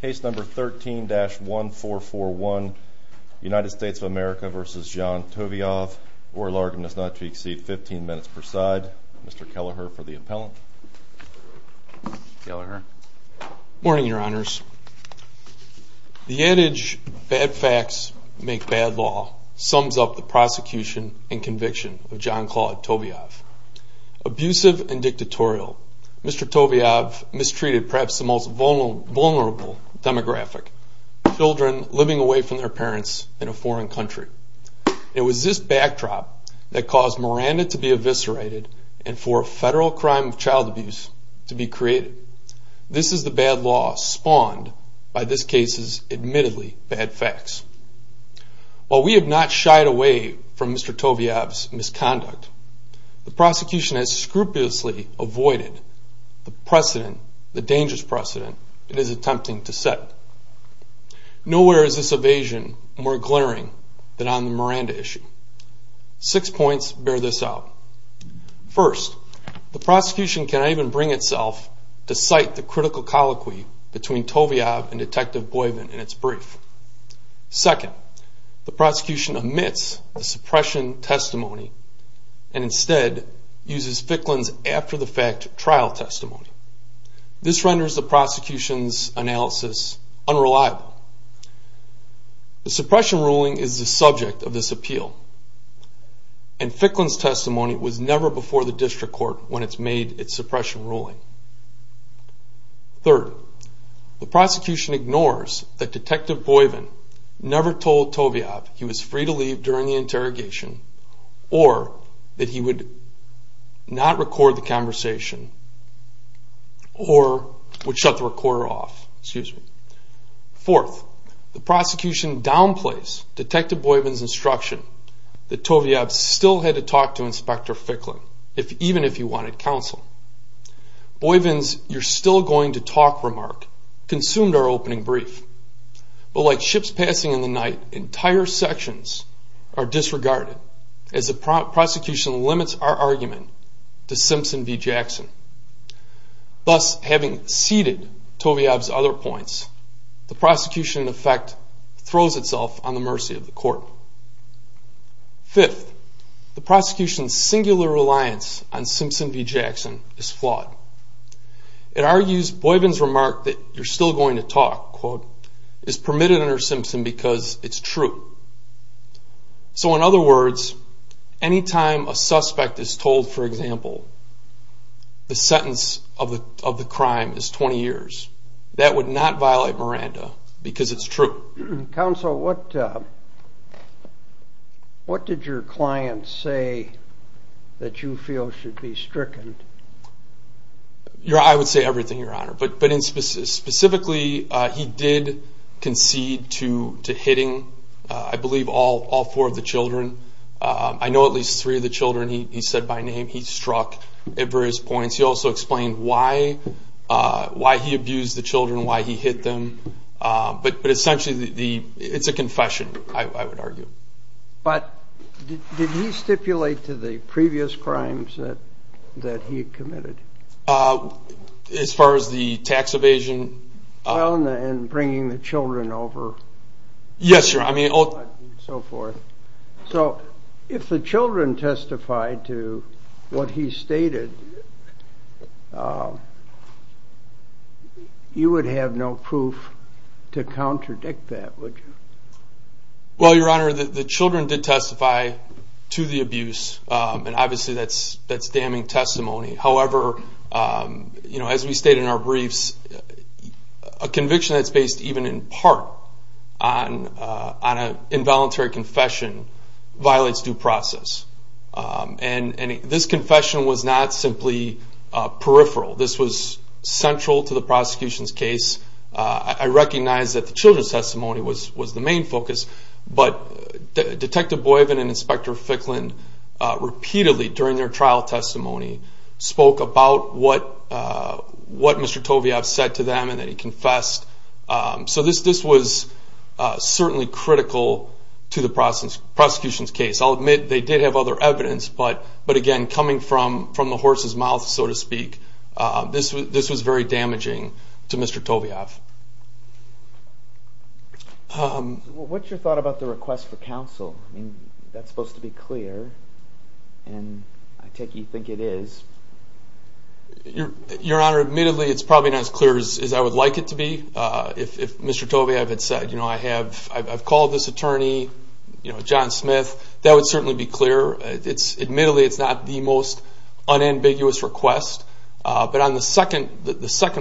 Case number 13-1441, United States of America v. Jean Toviave, oral argument is not to exceed 15 minutes per side. Mr. Kelleher for the appellant. Morning, your honors. The adage, bad facts make bad law, sums up the prosecution and conviction of Jean-Claude Toviave. Abusive and dictatorial, Mr. Toviave mistreated perhaps the most vulnerable demographic, children living away from their parents in a foreign country. It was this backdrop that caused Miranda to be eviscerated and for a federal crime of child abuse to be created. This is the bad law spawned by this case's admittedly bad facts. While we have not shied away from Mr. Toviave's misconduct, the prosecution has scrupulously avoided the precedent, the dangerous precedent, it is attempting to set. Nowhere is this evasion more glaring than on the Miranda issue. Six points bear this out. First, the prosecution cannot even bring itself to cite the critical colloquy between Toviave and Detective Boivin in its brief. Second, the prosecution omits the suppression testimony and instead uses Ficklin's after-the-fact trial testimony. This renders the prosecution's analysis unreliable. The suppression ruling is the subject of this appeal and Ficklin's testimony was never before the district court when it's made its suppression ruling. Third, the prosecution ignores that Detective Boivin never told Toviave he was free to leave during the interrogation or that he would not record the conversation or would shut the recorder off. Fourth, the prosecution downplays Detective Boivin's instruction that Toviave still had to talk to Inspector Ficklin, even if he wanted counsel. Boivin's you're still going to talk remark consumed our opening brief. But like ships passing in the night, entire sections are disregarded as the prosecution limits our argument to Simpson v. Jackson. Thus, having ceded Toviave's other points, the prosecution in effect throws itself on the mercy of the court. Fifth, the prosecution's singular reliance on Simpson v. Jackson is flawed. It argues Boivin's remark that you're still going to talk, quote, is permitted under Simpson because it's true. So in other words, any time a suspect is told, for example, the sentence of the crime is 20 years, that would not violate Miranda because it's true. Counsel, what did your client say that you feel should be stricken? I would say everything, Your Honor. But specifically, he did concede to hitting, I believe, all four of the children. I know at least three of the children he said by name he struck at various points. He also explained why he abused the children, why he hit them. But essentially, it's a confession, I would argue. But did he stipulate to the previous crimes that he committed? As far as the tax evasion? Well, and bringing the children over. Yes, Your Honor. So if the children testified to what he stated, you would have no proof to contradict that, would you? Well, Your Honor, the children did testify to the abuse. And obviously, that's damning testimony. However, as we state in our briefs, a conviction that's based even in part on an involuntary confession violates due process. And this confession was not simply peripheral. This was central to the prosecution's case. I recognize that the children's testimony was the main focus. But Detective Boivin and Inspector Ficklin repeatedly, during their trial testimony, spoke about what Mr. Toviaf said to them and that he confessed. So this was certainly critical to the prosecution's case. I'll admit they did have other evidence, but again, coming from the horse's mouth, so to speak, this was very damaging to Mr. Toviaf. What's your thought about the request for counsel? I mean, that's supposed to be clear, and I take it you think it is. Your Honor, admittedly, it's probably not as clear as I would like it to be. If Mr. Toviaf had said, you know, I've called this attorney, you know, John Smith, that would certainly be clear. Admittedly, it's not the most unambiguous request. But on the second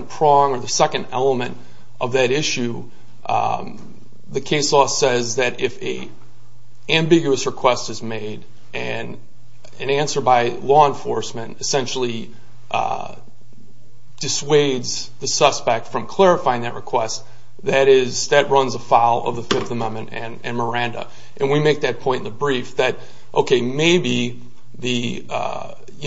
prong or the second element of that issue, the case law says that if an ambiguous request is made and an answer by law enforcement essentially dissuades the suspect from clarifying that request, that runs afoul of the Fifth Amendment and Miranda. And we make that point in the brief that, okay, maybe the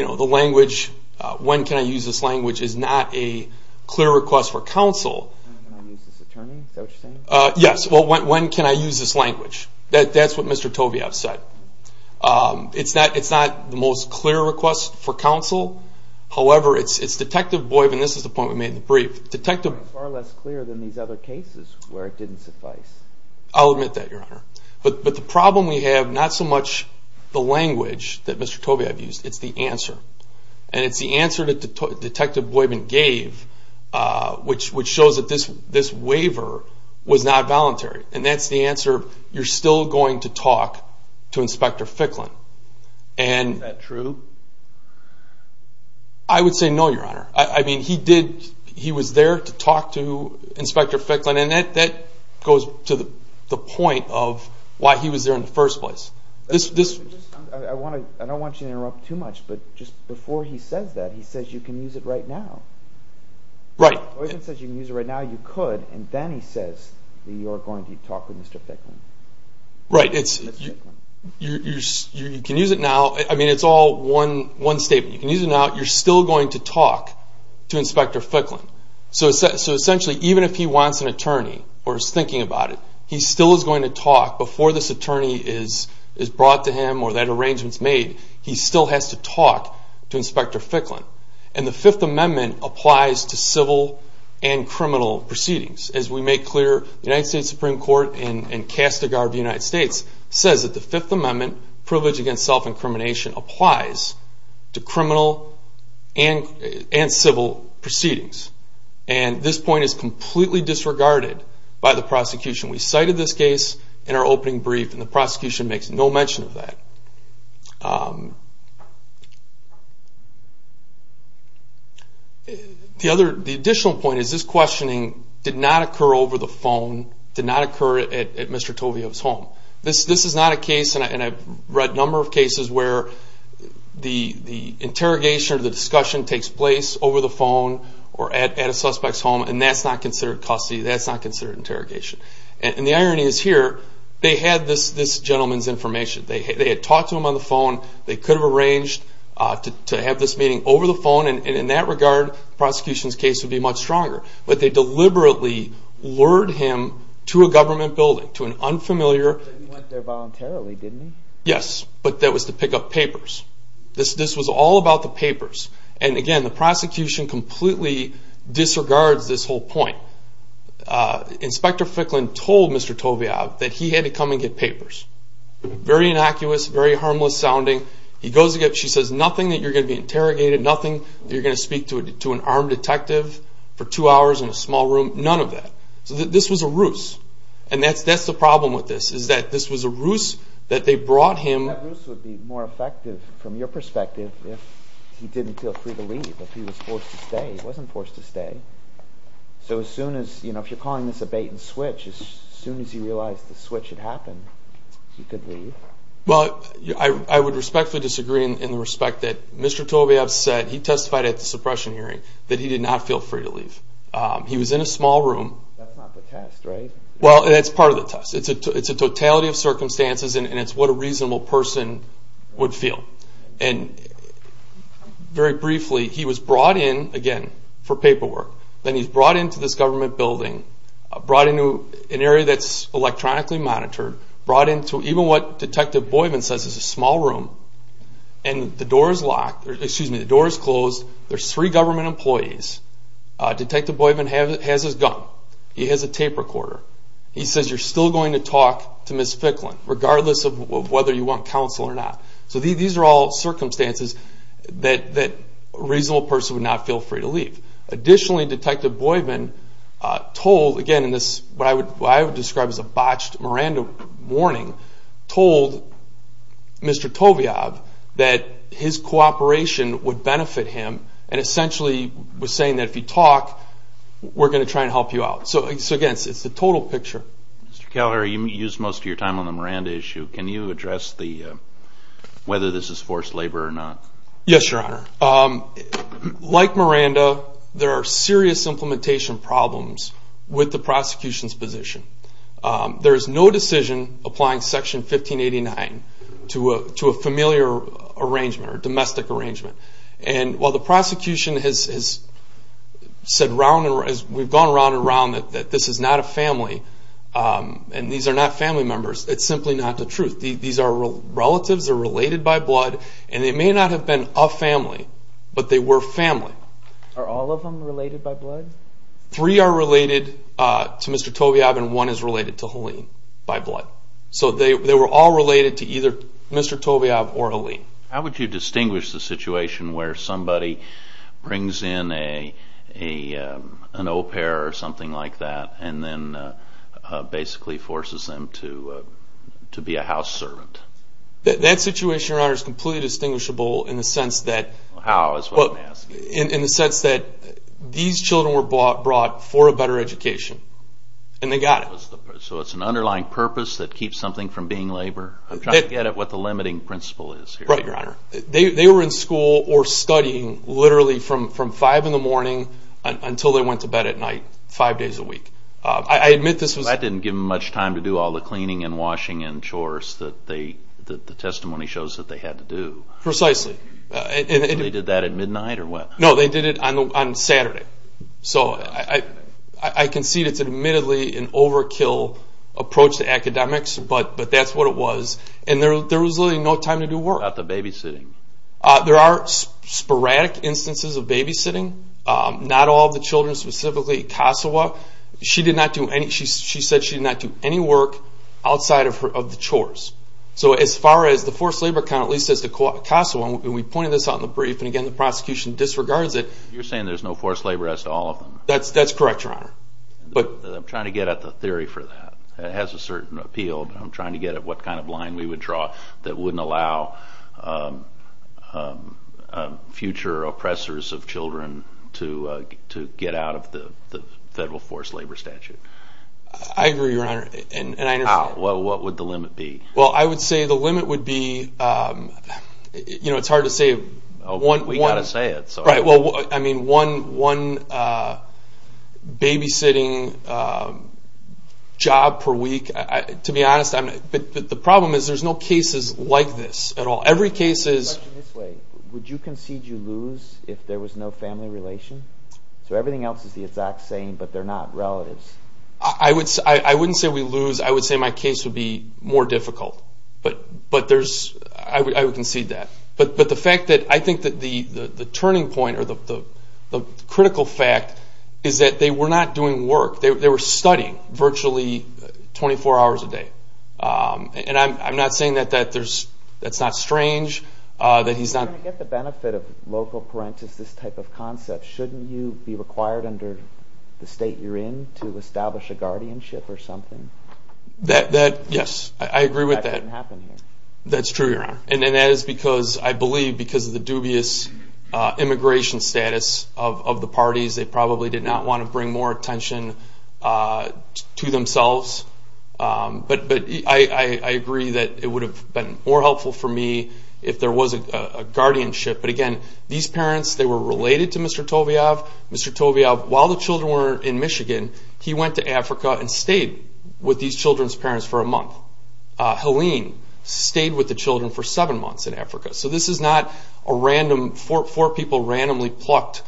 language, when can I use this language, is not a clear request for counsel. When can I use this attorney, is that what you're saying? Yes, well, when can I use this language? That's what Mr. Toviaf said. It's not the most clear request for counsel. However, it's Detective Boivin. This is the point we made in the brief. It's far less clear than these other cases where it didn't suffice. I'll admit that, Your Honor. But the problem we have, not so much the language that Mr. Toviaf used, it's the answer. And it's the answer that Detective Boivin gave, which shows that this waiver was not voluntary. And that's the answer, you're still going to talk to Inspector Ficklin. Is that true? I would say no, Your Honor. I mean, he was there to talk to Inspector Ficklin. And that goes to the point of why he was there in the first place. I don't want you to interrupt too much. But just before he says that, he says you can use it right now. Right. Boivin says you can use it right now. You could. And then he says that you're going to talk to Mr. Ficklin. Right. You can use it now. I mean, it's all one statement. You can use it now. You're still going to talk to Inspector Ficklin. So essentially, even if he wants an attorney or is thinking about it, he still is going to talk. Before this attorney is brought to him or that arrangement is made, he still has to talk to Inspector Ficklin. And the Fifth Amendment applies to civil and criminal proceedings. As we make clear, the United States Supreme Court in Kastegard, the United States, says that the Fifth Amendment, privilege against self-incrimination, applies to criminal and civil proceedings. And this point is completely disregarded by the prosecution. We cited this case in our opening brief, and the prosecution makes no mention of that. The additional point is this questioning did not occur over the phone, did not occur at Mr. Tovio's home. This is not a case, and I've read a number of cases, where the interrogation or the discussion takes place over the phone or at a suspect's home, and that's not considered custody. That's not considered interrogation. And the irony is here, they had this gentleman's information. They had talked to him on the phone. They could have arranged to have this meeting over the phone, and in that regard, the prosecution's case would be much stronger. But they deliberately lured him to a government building, to an unfamiliar. You went there voluntarily, didn't you? Yes, but that was to pick up papers. This was all about the papers. And again, the prosecution completely disregards this whole point. Inspector Ficklin told Mr. Tovio that he had to come and get papers. Very innocuous, very harmless sounding. He goes to get them. She says, nothing that you're going to be interrogated, nothing that you're going to speak to an armed detective for two hours in a small room, none of that. So this was a ruse, and that's the problem with this, is that this was a ruse that they brought him. That ruse would be more effective, from your perspective, if he didn't feel free to leave, if he was forced to stay. He wasn't forced to stay. So if you're calling this a bait and switch, as soon as he realized the switch had happened, he could leave. Well, I would respectfully disagree in the respect that Mr. Tovio said he testified at the suppression hearing that he did not feel free to leave. He was in a small room. That's not the test, right? Well, that's part of the test. It's a totality of circumstances, and it's what a reasonable person would feel. And very briefly, he was brought in, again, for paperwork. Then he's brought into this government building, brought into an area that's electronically monitored, brought into even what Detective Boydman says is a small room, and the door is locked. Excuse me, the door is closed. There's three government employees. Detective Boydman has his gun. He has a tape recorder. He says you're still going to talk to Ms. Ficklin, regardless of whether you want counsel or not. So these are all circumstances that a reasonable person would not feel free to leave. Additionally, Detective Boydman told, again, what I would describe as a botched Miranda warning, told Mr. Toviab that his cooperation would benefit him and essentially was saying that if you talk, we're going to try and help you out. So, again, it's the total picture. Mr. Calhoun, you used most of your time on the Miranda issue. Can you address whether this is forced labor or not? Yes, Your Honor. Like Miranda, there are serious implementation problems with the prosecution's position. There is no decision applying Section 1589 to a familiar arrangement or domestic arrangement. And while the prosecution has said round and round, we've gone round and round that this is not a family and these are not family members, it's simply not the truth. These are relatives, they're related by blood, and they may not have been a family, but they were family. Are all of them related by blood? Three are related to Mr. Toviab and one is related to Helene by blood. So they were all related to either Mr. Toviab or Helene. How would you distinguish the situation where somebody brings in an au pair or something like that and then basically forces them to be a house servant? That situation, Your Honor, is completely distinguishable in the sense that How, is what I'm asking. in the sense that these children were brought for a better education and they got it. So it's an underlying purpose that keeps something from being labor? I'm trying to get at what the limiting principle is here, Your Honor. They were in school or studying literally from 5 in the morning until they went to bed at night, five days a week. I admit this was That didn't give them much time to do all the cleaning and washing and chores that the testimony shows that they had to do. Precisely. They did that at midnight or what? No, they did it on Saturday. So I concede it's admittedly an overkill approach to academics, but that's what it was. And there was literally no time to do work. How about the babysitting? There are sporadic instances of babysitting. Not all of the children, specifically Kasawa. She said she did not do any work outside of the chores. So as far as the forced labor count, at least as to Kasawa, and we pointed this out in the brief, and again the prosecution disregards it. You're saying there's no forced labor as to all of them? That's correct, Your Honor. I'm trying to get at the theory for that. It has a certain appeal, but I'm trying to get at what kind of line we would draw that wouldn't allow future oppressors of children to get out of the federal forced labor statute. I agree, Your Honor, and I understand. What would the limit be? Well, I would say the limit would be one babysitting job per week. To be honest, the problem is there's no cases like this at all. Question this way. Would you concede you lose if there was no family relation? So everything else is the exact same, but they're not relatives. I wouldn't say we lose. I would say my case would be more difficult, but I would concede that. But the fact that I think that the turning point or the critical fact is that they were not doing work. They were studying virtually 24 hours a day. And I'm not saying that that's not strange. I'm trying to get the benefit of local parentis this type of concept. Shouldn't you be required under the state you're in to establish a guardianship or something? Yes, I agree with that. That doesn't happen here. That's true, Your Honor. And that is because I believe because of the dubious immigration status of the parties, they probably did not want to bring more attention to themselves. But I agree that it would have been more helpful for me if there was a guardianship. But, again, these parents, they were related to Mr. Toviav. Mr. Toviav, while the children were in Michigan, he went to Africa and stayed with these children's parents for a month. Helene stayed with the children for seven months in Africa. So this is not a random four people randomly plucked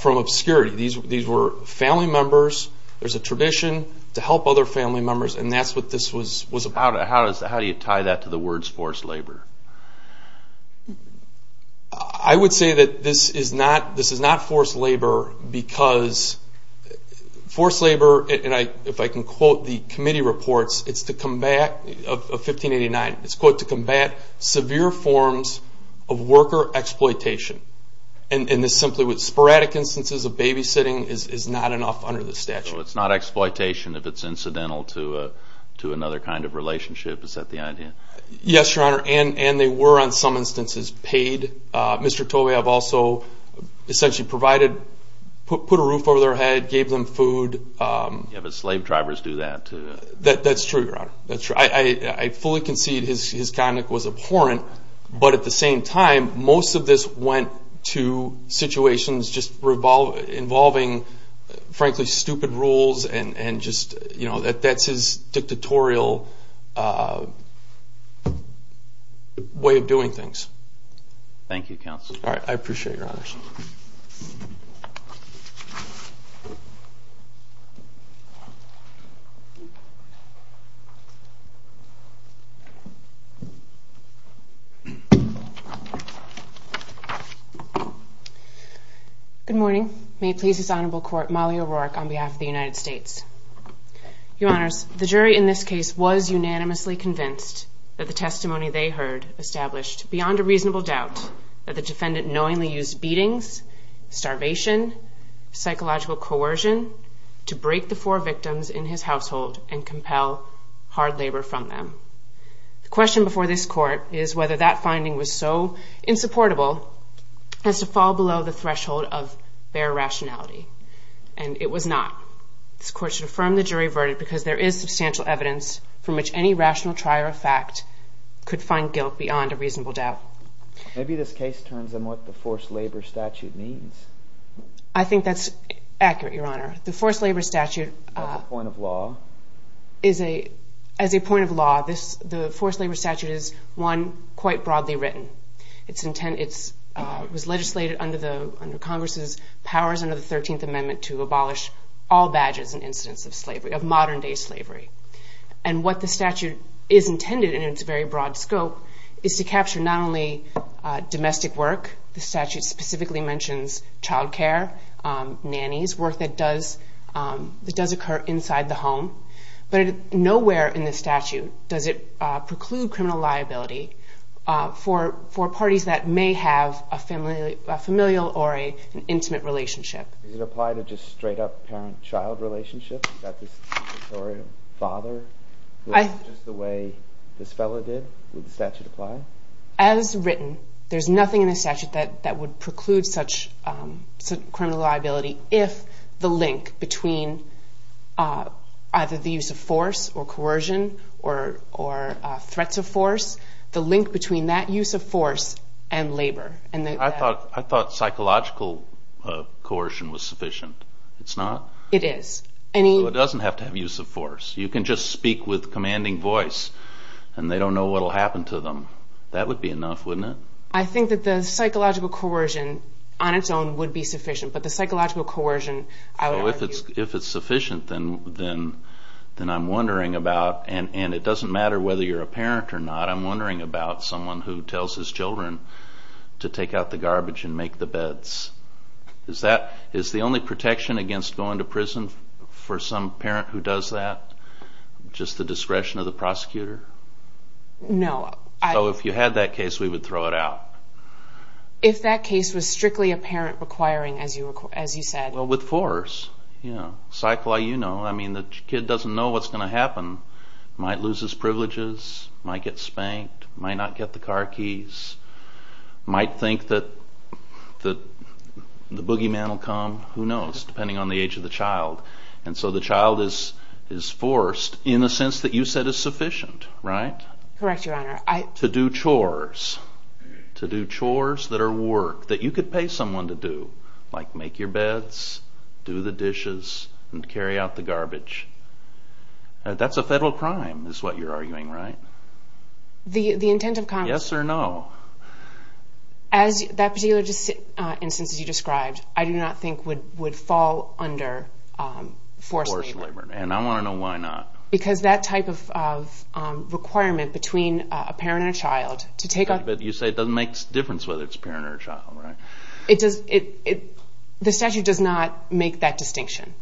from obscurity. These were family members. There's a tradition to help other family members, and that's what this was about. How do you tie that to the words forced labor? I would say that this is not forced labor because forced labor, and if I can quote the committee reports of 1589, it's, quote, to combat severe forms of worker exploitation. And this simply with sporadic instances of babysitting is not enough under the statute. So it's not exploitation if it's incidental to another kind of relationship. Is that the idea? Yes, Your Honor, and they were on some instances paid. Mr. Toviav also essentially provided, put a roof over their head, gave them food. Yeah, but slave drivers do that. That's true, Your Honor. I fully concede his conduct was abhorrent. And just, you know, that's his dictatorial way of doing things. Thank you, counsel. All right, I appreciate it, Your Honor. Good morning. May it please this honorable court, Molly O'Rourke on behalf of the United States. Your Honors, the jury in this case was unanimously convinced that the testimony they heard established beyond a reasonable doubt that the defendant knowingly used beatings, starvation, psychological coercion to break the four victims in his household and compel hard labor from them. The question before this court is whether that finding was so insupportable as to fall below the threshold of bare rationality. And it was not. This court should affirm the jury verdict because there is substantial evidence from which any rational trier of fact could find guilt beyond a reasonable doubt. Maybe this case turns on what the forced labor statute means. I think that's accurate, Your Honor. The forced labor statute. That's a point of law. As a point of law, the forced labor statute is, one, quite broadly written. It was legislated under Congress's powers under the 13th Amendment to abolish all badges and incidents of modern-day slavery. And what the statute is intended in its very broad scope is to capture not only domestic work. The statute specifically mentions child care, nannies, work that does occur inside the home. But nowhere in the statute does it preclude criminal liability for parties that may have a familial or an intimate relationship. Does it apply to just straight-up parent-child relationships? Is that the same for a father? Is this just the way this fellow did? Would the statute apply? As written, there's nothing in the statute that would preclude such criminal liability if the link between either the use of force or coercion or threats of force, the link between that use of force and labor. I thought psychological coercion was sufficient. It's not? It is. It doesn't have to have use of force. You can just speak with commanding voice and they don't know what will happen to them. That would be enough, wouldn't it? I think that the psychological coercion on its own would be sufficient. But the psychological coercion, I would argue... If it's sufficient, then I'm wondering about, and it doesn't matter whether you're a parent or not, I'm wondering about someone who tells his children to take out the garbage and make the beds. Is the only protection against going to prison for some parent who does that just the discretion of the prosecutor? No. So if you had that case, we would throw it out? If that case was strictly a parent requiring, as you said. Well, with force. Cycli, you know, the kid doesn't know what's going to happen. Might lose his privileges, might get spanked, might not get the car keys, might think that the boogeyman will come. Who knows, depending on the age of the child. And so the child is forced, in the sense that you said is sufficient, right? Correct, Your Honor. To do chores. To do chores that are work, that you could pay someone to do. Like make your beds, do the dishes, and carry out the garbage. That's a federal crime, is what you're arguing, right? The intent of Congress... Yes or no? As that particular instance that you described, I do not think would fall under forced labor. And I want to know why not. Because that type of requirement between a parent and a child to take on... But you say it doesn't make a difference whether it's a parent or a child, right? The statute does not make that distinction.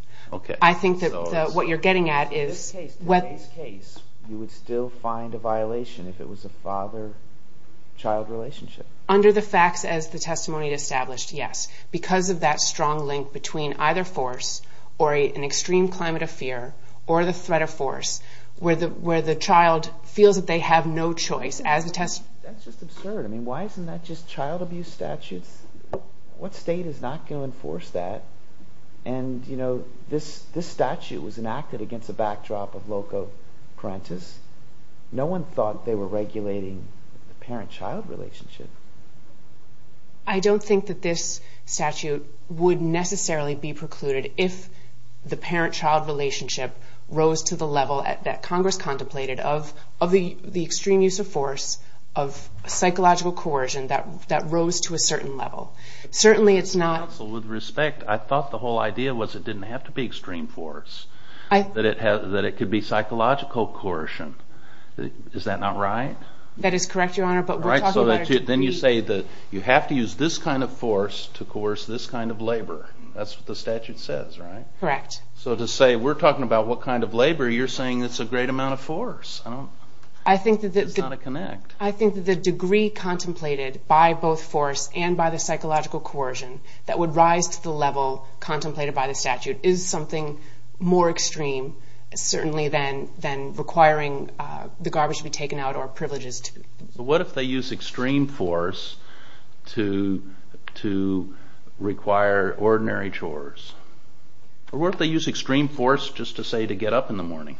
I think that what you're getting at is... In this case, you would still find a violation if it was a father-child relationship. Under the facts as the testimony established, yes. Because of that strong link between either force or an extreme climate of fear or the threat of force, where the child feels that they have no choice. That's just absurd. I mean, why isn't that just child abuse statutes? What state is not going to enforce that? And, you know, this statute was enacted against a backdrop of loco parentis. No one thought they were regulating the parent-child relationship. I don't think that this statute would necessarily be precluded if the parent-child relationship rose to the level that Congress contemplated of the extreme use of force, of psychological coercion that rose to a certain level. Certainly it's not... Counsel, with respect, I thought the whole idea was it didn't have to be extreme force, that it could be psychological coercion. Is that not right? That is correct, Your Honor, but we're talking about... Then you say that you have to use this kind of force to coerce this kind of labor. That's what the statute says, right? Correct. So to say we're talking about what kind of labor, you're saying it's a great amount of force. It's not a connect. I think that the degree contemplated by both force and by the psychological coercion that would rise to the level contemplated by the statute is something more extreme, certainly, than requiring the garbage to be taken out or privileges to be... But what if they use extreme force to require ordinary chores? Or what if they use extreme force just to say to get up in the morning?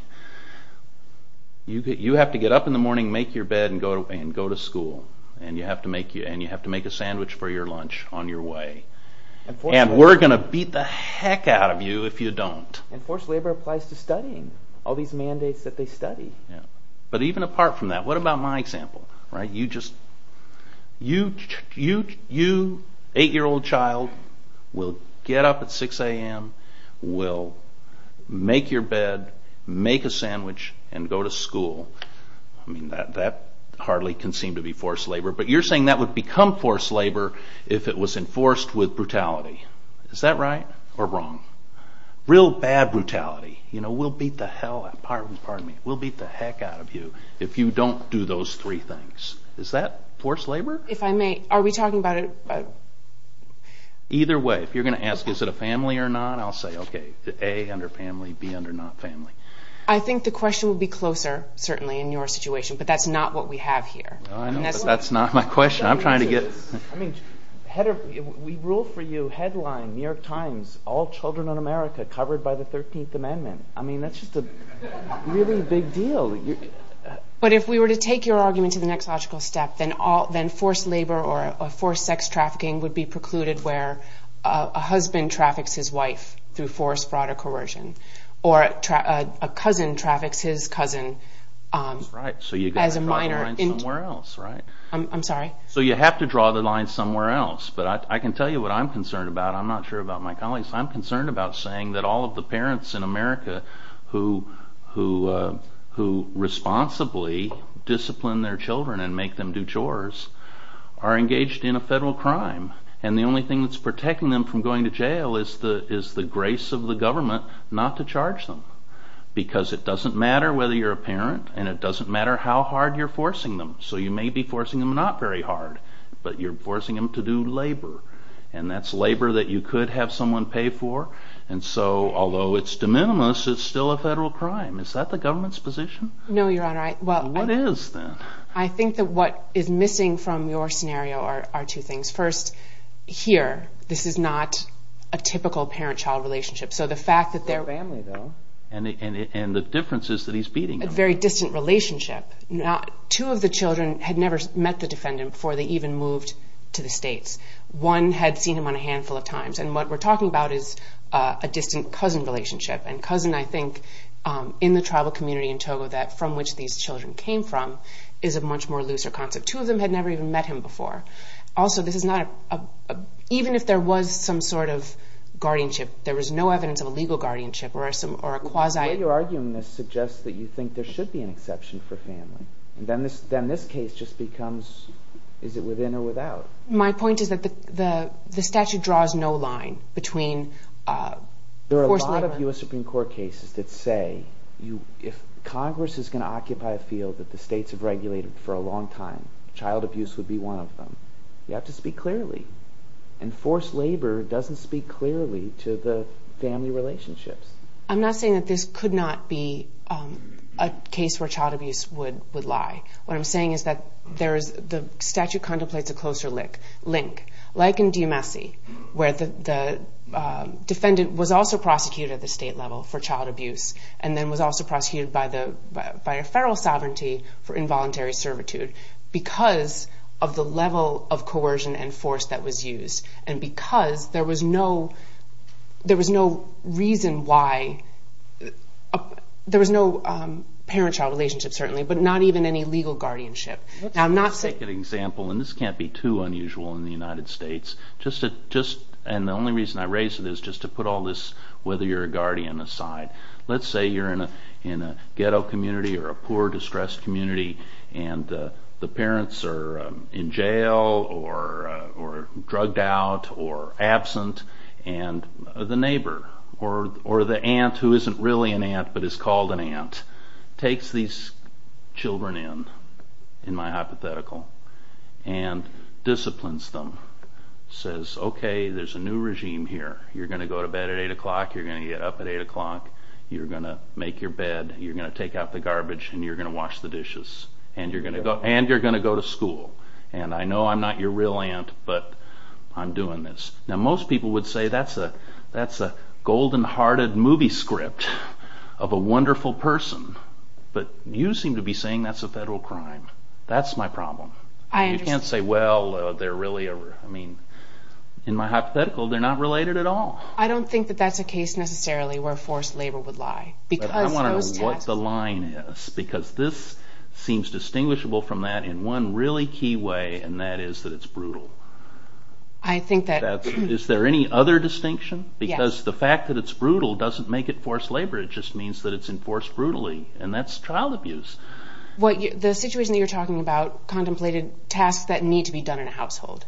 You have to get up in the morning, make your bed, and go to school, and you have to make a sandwich for your lunch on your way. And we're going to beat the heck out of you if you don't. And forced labor applies to studying, all these mandates that they study. But even apart from that, what about my example? You, 8-year-old child, will get up at 6 a.m., will make your bed, make a sandwich, and go to school. That hardly can seem to be forced labor, but you're saying that would become forced labor if it was enforced with brutality. Is that right or wrong? Real bad brutality. We'll beat the heck out of you if you don't do those three things. Is that forced labor? If I may, are we talking about... Either way, if you're going to ask, is it a family or not, I'll say, okay, A, under family, B, under not family. I think the question would be closer, certainly, in your situation, but that's not what we have here. That's not my question. I'm trying to get... We rule for you, headline, New York Times, all children in America covered by the 13th Amendment. I mean, that's just a really big deal. But if we were to take your argument to the next logical step, then forced labor or forced sex trafficking would be precluded where a husband traffics his wife through forced fraud or coercion, or a cousin traffics his cousin as a minor. So you've got to draw the line somewhere else, right? I'm sorry? So you have to draw the line somewhere else, but I can tell you what I'm concerned about. I'm not sure about my colleagues. I'm concerned about saying that all of the parents in America who responsibly discipline their children and make them do chores are engaged in a federal crime, and the only thing that's protecting them from going to jail is the grace of the government not to charge them, because it doesn't matter whether you're a parent, and it doesn't matter how hard you're forcing them. So you may be forcing them not very hard, but you're forcing them to do labor, and that's labor that you could have someone pay for, and so although it's de minimis, it's still a federal crime. Is that the government's position? No, Your Honor. Well, what is then? I think that what is missing from your scenario are two things. First, here, this is not a typical parent-child relationship. So the fact that they're a family, though. And the difference is that he's beating them. A very distant relationship. Two of the children had never met the defendant before they even moved to the States. One had seen him on a handful of times, and what we're talking about is a distant cousin relationship. And cousin, I think, in the tribal community in Togo, from which these children came from, is a much more looser concept. Two of them had never even met him before. Also, even if there was some sort of guardianship, there was no evidence of a legal guardianship or a quasi... The way you're arguing this suggests that you think there should be an exception for family. Then this case just becomes, is it within or without? My point is that the statute draws no line between forced labor... There are a lot of U.S. Supreme Court cases that say if Congress is going to occupy a field that the states have regulated for a long time, child abuse would be one of them. You have to speak clearly. And forced labor doesn't speak clearly to the family relationships. I'm not saying that this could not be a case where child abuse would lie. What I'm saying is that the statute contemplates a closer link. Like in D.M.S.C., where the defendant was also prosecuted at the state level for child abuse and then was also prosecuted by a federal sovereignty for involuntary servitude because of the level of coercion and force that was used and because there was no reason why... There was no parent-child relationship, certainly, but not even any legal guardianship. Let's take an example, and this can't be too unusual in the United States, and the only reason I raise it is just to put all this whether you're a guardian aside. Let's say you're in a ghetto community or a poor, distressed community and the parents are in jail or drugged out or absent and the neighbor or the aunt who isn't really an aunt but is called an aunt takes these children in, in my hypothetical, and disciplines them. Says, OK, there's a new regime here. You're going to go to bed at 8 o'clock, you're going to get up at 8 o'clock, you're going to make your bed, you're going to take out the garbage, and you're going to wash the dishes, and you're going to go to school. And I know I'm not your real aunt, but I'm doing this. Now most people would say that's a golden-hearted movie script of a wonderful person, but you seem to be saying that's a federal crime. That's my problem. You can't say, well, they're really a, I mean, in my hypothetical, they're not related at all. I don't think that that's a case necessarily where forced labor would lie. But I want to know what the line is, because this seems distinguishable from that in one really key way, and that is that it's brutal. Is there any other distinction? Because the fact that it's brutal doesn't make it forced labor. It just means that it's enforced brutally, and that's child abuse. The situation that you're talking about contemplated tasks that need to be done in a household.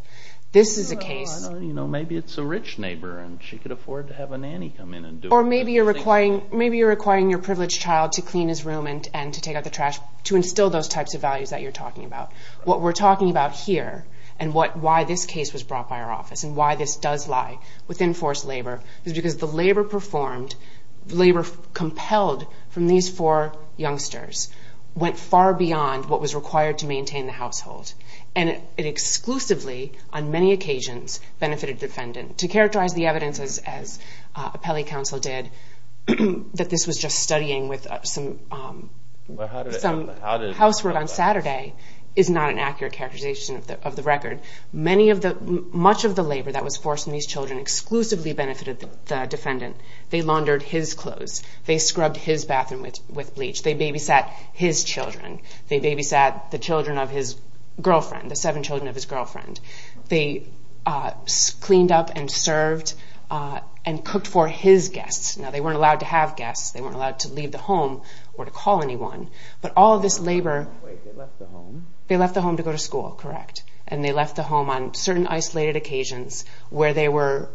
This is a case. Maybe it's a rich neighbor, and she could afford to have a nanny come in and do it. Or maybe you're requiring your privileged child to clean his room and to take out the trash to instill those types of values that you're talking about. What we're talking about here and why this case was brought by our office and why this does lie within forced labor is because the labor performed, the labor compelled from these four youngsters went far beyond what was required to maintain the household. And it exclusively, on many occasions, benefited the defendant. To characterize the evidence, as appellee counsel did, that this was just studying with some housework on Saturday is not an accurate characterization of the record. Much of the labor that was forced on these children exclusively benefited the defendant. They laundered his clothes. They scrubbed his bathroom with bleach. They babysat his children. They babysat the children of his girlfriend, the seven children of his girlfriend. They cleaned up and served and cooked for his guests. Now, they weren't allowed to have guests. They weren't allowed to leave the home or to call anyone. But all of this labor, they left the home to go to school, correct? And they left the home on certain isolated occasions where they were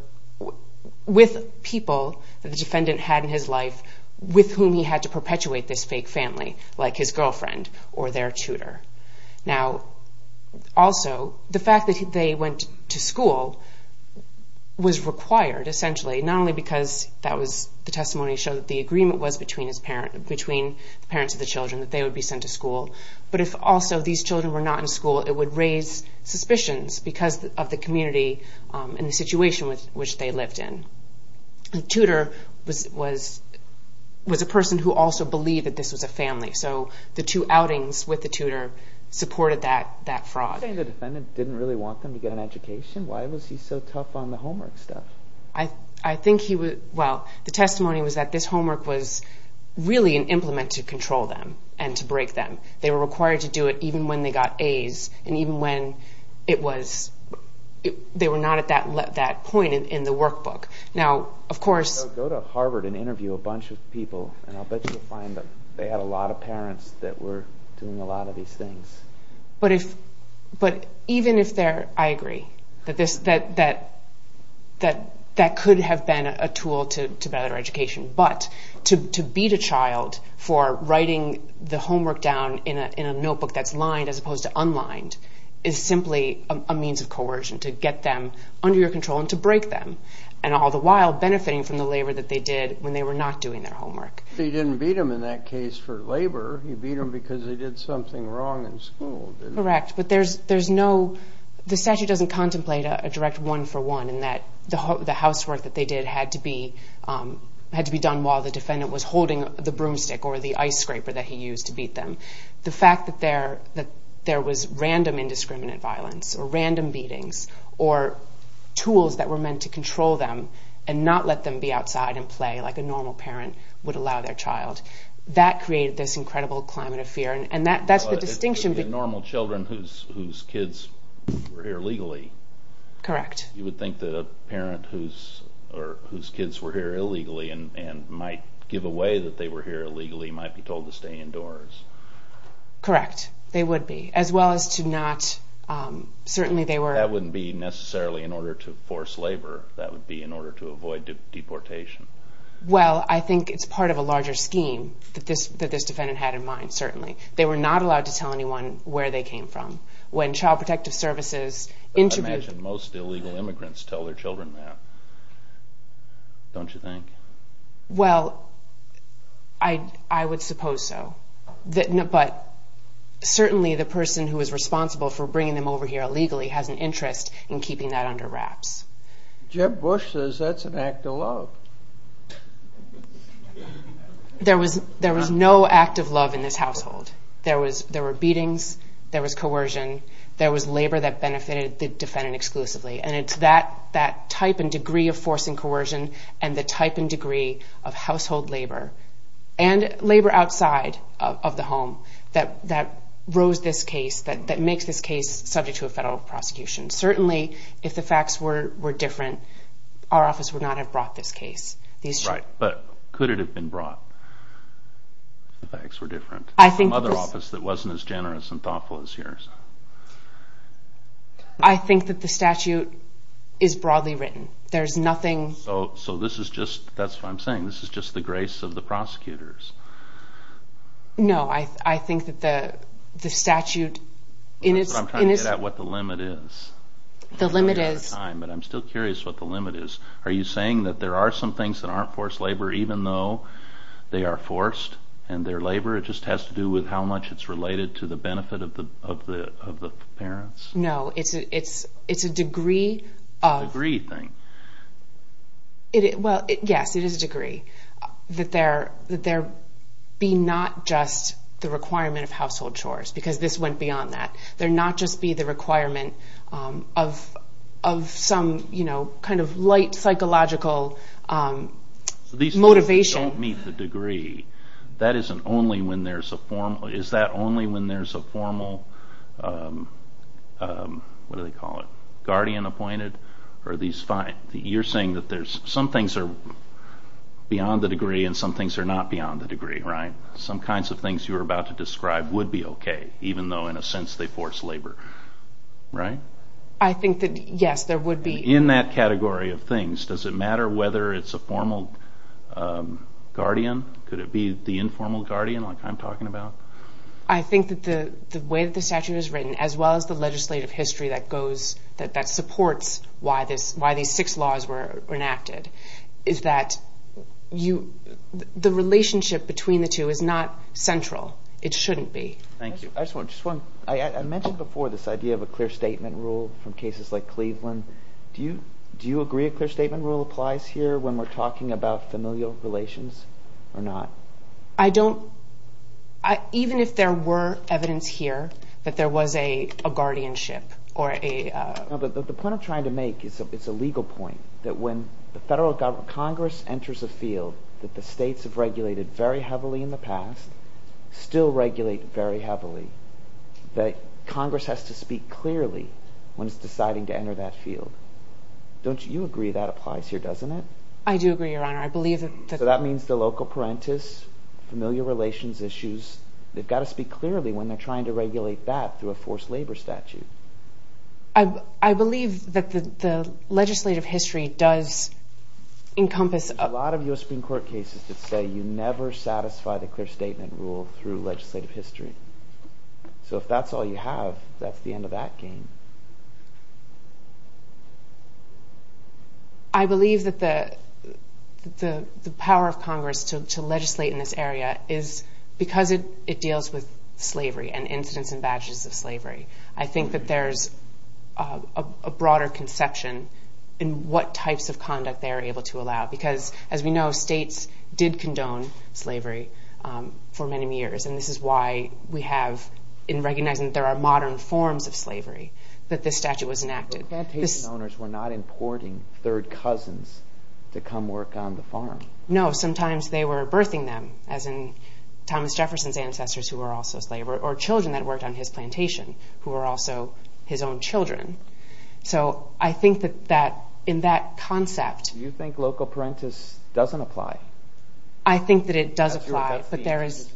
with people that the defendant had in his life with whom he had to perpetuate this fake family, like his girlfriend or their tutor. Now, also, the fact that they went to school was required, essentially, not only because the testimony showed that the agreement was between the parents of the children that they would be sent to school, but if also these children were not in school, it would raise suspicions because of the community and the situation which they lived in. The tutor was a person who also believed that this was a family, so the two outings with the tutor supported that fraud. So you're saying the defendant didn't really want them to get an education? Why was he so tough on the homework stuff? I think he was, well, the testimony was that this homework was really an implement to control them and to break them. They were required to do it even when they got A's, and even when they were not at that point in the workbook. Now, of course... Go to Harvard and interview a bunch of people, and I'll bet you'll find that they had a lot of parents that were doing a lot of these things. But even if they're, I agree, that that could have been a tool to better education, but to beat a child for writing the homework down in a notebook that's lined as opposed to unlined is simply a means of coercion to get them under your control and to break them, and all the while benefiting from the labor that they did when they were not doing their homework. He didn't beat them in that case for labor. He beat them because they did something wrong in school, didn't he? Correct, but there's no... The statute doesn't contemplate a direct one-for-one in that the housework that they did had to be done while the defendant was holding the broomstick or the ice scraper that he used to beat them. The fact that there was random indiscriminate violence or random beatings or tools that were meant to control them and not let them be outside and play like a normal parent would allow their child, that created this incredible climate of fear, and that's the distinction... It would be normal children whose kids were here legally. Correct. You would think that a parent whose kids were here illegally and might give away that they were here illegally might be told to stay indoors. Correct, they would be, as well as to not... Certainly they were... That wouldn't be necessarily in order to force labor. That would be in order to avoid deportation. Well, I think it's part of a larger scheme that this defendant had in mind, certainly. They were not allowed to tell anyone where they came from. When Child Protective Services interviewed... I imagine most illegal immigrants tell their children that, don't you think? Well, I would suppose so, but certainly the person who is responsible for bringing them over here illegally has an interest in keeping that under wraps. Jeb Bush says that's an act of love. There was no act of love in this household. There were beatings, there was coercion, there was labor that benefited the defendant exclusively, and it's that type and degree of force and coercion and the type and degree of household labor and labor outside of the home that rose this case, that makes this case subject to a federal prosecution. Certainly, if the facts were different, our office would not have brought this case. Right, but could it have been brought if the facts were different? I think... From another office that wasn't as generous and thoughtful as yours. I think that the statute is broadly written. There's nothing... So this is just, that's what I'm saying, this is just the grace of the prosecutors. No, I think that the statute in its... The limit is... But I'm still curious what the limit is. Are you saying that there are some things that aren't forced labor even though they are forced and they're labor? It just has to do with how much it's related to the benefit of the parents? No, it's a degree of... It's a degree thing. Well, yes, it is a degree, that there be not just the requirement of household chores, because this went beyond that. There not just be the requirement of some kind of light psychological motivation. These things don't meet the degree. That isn't only when there's a formal... Is that only when there's a formal, what do they call it, guardian appointed? Are these fine? You're saying that some things are beyond the degree and some things are not beyond the degree, right? Some kinds of things you were about to describe would be okay, even though in a sense they force labor, right? I think that, yes, there would be... In that category of things, does it matter whether it's a formal guardian? Could it be the informal guardian like I'm talking about? I think that the way the statute is written, as well as the legislative history that supports why these six laws were enacted, is that the relationship between the two is not central. It shouldn't be. Thank you. I just want to... I mentioned before this idea of a clear statement rule from cases like Cleveland. Do you agree a clear statement rule applies here when we're talking about familial relations or not? I don't. Even if there were evidence here that there was a guardianship or a... No, but the point I'm trying to make is a legal point, that when the federal Congress enters a field that the states have regulated very heavily in the past, still regulate very heavily, that Congress has to speak clearly when it's deciding to enter that field. Don't you agree that applies here, doesn't it? I do agree, Your Honor. I believe that... So that means the local parentis, familial relations issues, they've got to speak clearly when they're trying to regulate that through a forced labor statute. I believe that the legislative history does encompass... There are a lot of U.S. Supreme Court cases that say you never satisfy the clear statement rule through legislative history. So if that's all you have, that's the end of that game. I believe that the power of Congress to legislate in this area is because it deals with slavery and incidents and badges of slavery. I think that there's a broader conception in what types of conduct they're able to allow, because as we know, states did condone slavery for many years, and this is why we have, in recognizing that there are modern forms of slavery, that this statute was enacted. The plantation owners were not importing third cousins to come work on the farm. No, sometimes they were birthing them, as in Thomas Jefferson's ancestors who were also slaves, or children that worked on his plantation, who were also his own children. So I think that in that concept... Do you think local parentis doesn't apply? I think that it does apply, but there is...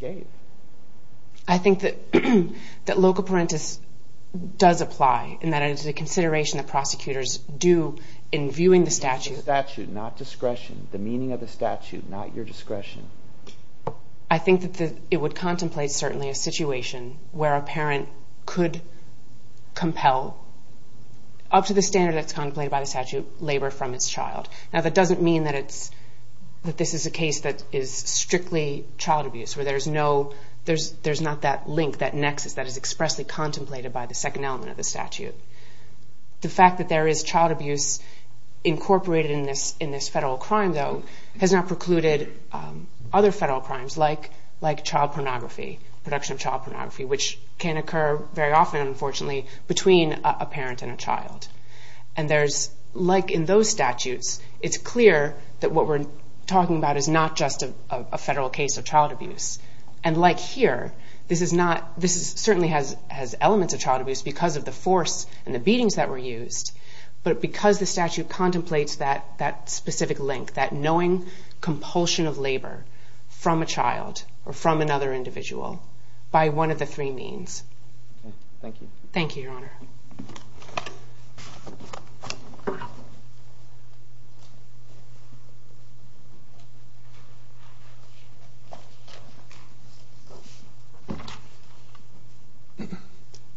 I think that local parentis does apply, and that it is a consideration that prosecutors do in viewing the statute. The statute, not discretion. The meaning of the statute, not your discretion. I think that it would contemplate, certainly, a situation where a parent could compel, up to the standard that's contemplated by the statute, to labor from its child. Now, that doesn't mean that this is a case that is strictly child abuse, where there's no... There's not that link, that nexus, that is expressly contemplated by the second element of the statute. The fact that there is child abuse incorporated in this federal crime, though, has not precluded other federal crimes, like child pornography, production of child pornography, which can occur very often, unfortunately, between a parent and a child. And there's... Like in those statutes, it's clear that what we're talking about is not just a federal case of child abuse. And like here, this is not... This certainly has elements of child abuse because of the force and the beatings that were used, but because the statute contemplates that specific link, that knowing compulsion of labor from a child or from another individual by one of the three means. Thank you. Thank you, Your Honor. Thank you.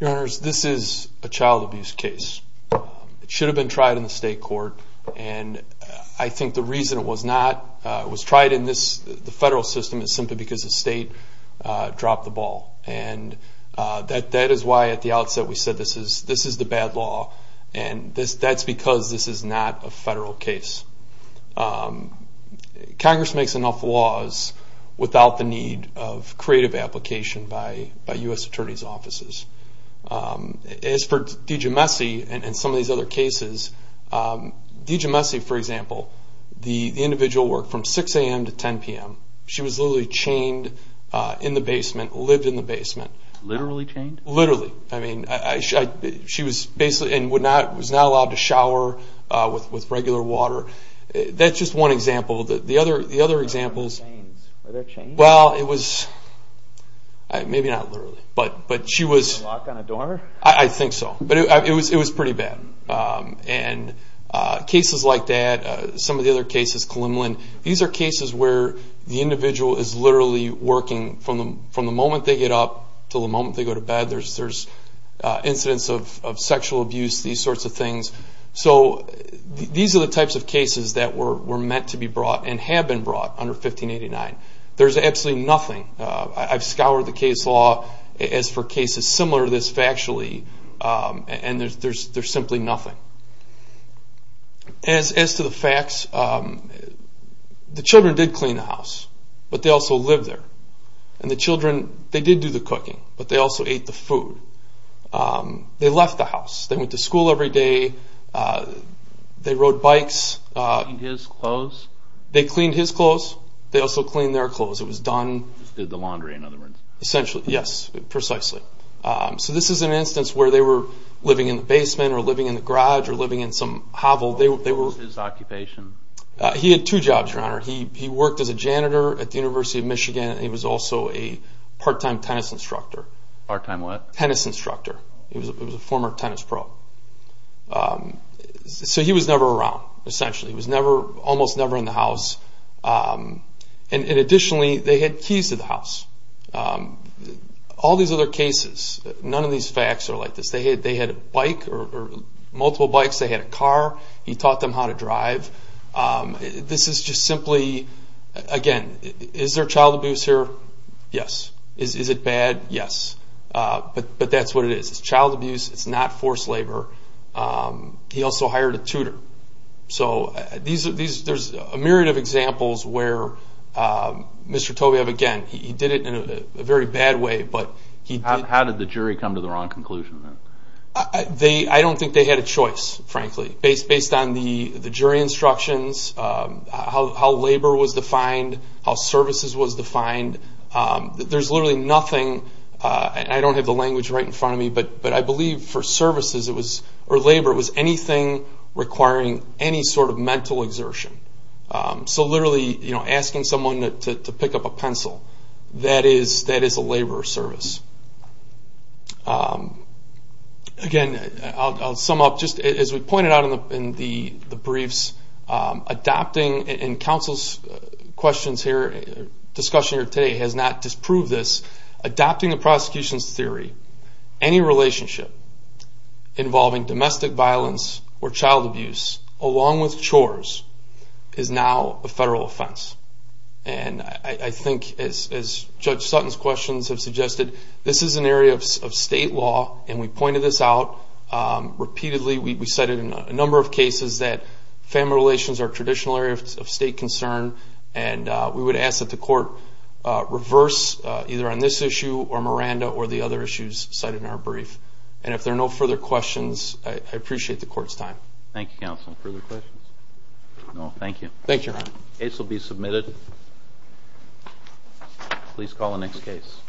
Your Honors, this is a child abuse case. It should have been tried in the state court, and I think the reason it was not, it was tried in the federal system, is simply because the state dropped the ball. And that is why, at the outset, we said this is the bad law, and that's because this is not a federal case. Congress makes enough laws without the need of creative application by U.S. Attorney's Offices. As for Deja Messy and some of these other cases, Deja Messy, for example, the individual worked from 6 a.m. to 10 p.m. She was literally chained in the basement, lived in the basement. Literally chained? Literally. I mean, she was basically, and was not allowed to shower with regular water. That's just one example. The other examples. Are there chains? Well, it was, maybe not literally, but she was. Locked on a door? I think so, but it was pretty bad. And cases like that, some of the other cases, these are cases where the individual is literally working from the moment they get up to the moment they go to bed. There's incidents of sexual abuse, these sorts of things. So these are the types of cases that were meant to be brought and have been brought under 1589. There's absolutely nothing. I've scoured the case law as for cases similar to this factually, and there's simply nothing. As to the facts, the children did clean the house, but they also lived there. And the children, they did do the cooking, but they also ate the food. They left the house. They went to school every day. They rode bikes. Cleaned his clothes? They cleaned his clothes. They also cleaned their clothes. It was done. Just did the laundry, in other words. Essentially, yes, precisely. So this is an instance where they were living in the basement or living in the garage or living in some hovel. What was his occupation? He had two jobs, Your Honor. He worked as a janitor at the University of Michigan. He was also a part-time tennis instructor. Part-time what? Tennis instructor. He was a former tennis pro. So he was never around, essentially. He was almost never in the house. And additionally, they had keys to the house. All these other cases, none of these facts are like this. They had a bike or multiple bikes. They had a car. He taught them how to drive. This is just simply, again, is there child abuse here? Yes. Is it bad? Yes. But that's what it is. It's child abuse. It's not forced labor. He also hired a tutor. So there's a myriad of examples where Mr. Tobiev, again, he did it in a very bad way. How did the jury come to the wrong conclusion? I don't think they had a choice, frankly. Based on the jury instructions, how labor was defined, how services was defined, there's literally nothing, and I don't have the language right in front of me, but I believe for services or labor, it was anything requiring any sort of mental exertion. So literally asking someone to pick up a pencil, that is a labor service. Again, I'll sum up. Just as we pointed out in the briefs, adopting, in counsel's questions here, discussion here today, has not disproved this. Adopting a prosecution's theory, any relationship involving domestic violence or child abuse, along with chores, is now a federal offense. And I think, as Judge Sutton's questions have suggested, this is an area of state law, and we pointed this out repeatedly. We cited in a number of cases that family relations are a traditional area of state concern, and we would ask that the Court reverse either on this issue or Miranda or the other issues cited in our brief. And if there are no further questions, I appreciate the Court's time. Thank you, counsel. Further questions? No, thank you. Thank you, Your Honor. The case will be submitted. Please call the next case.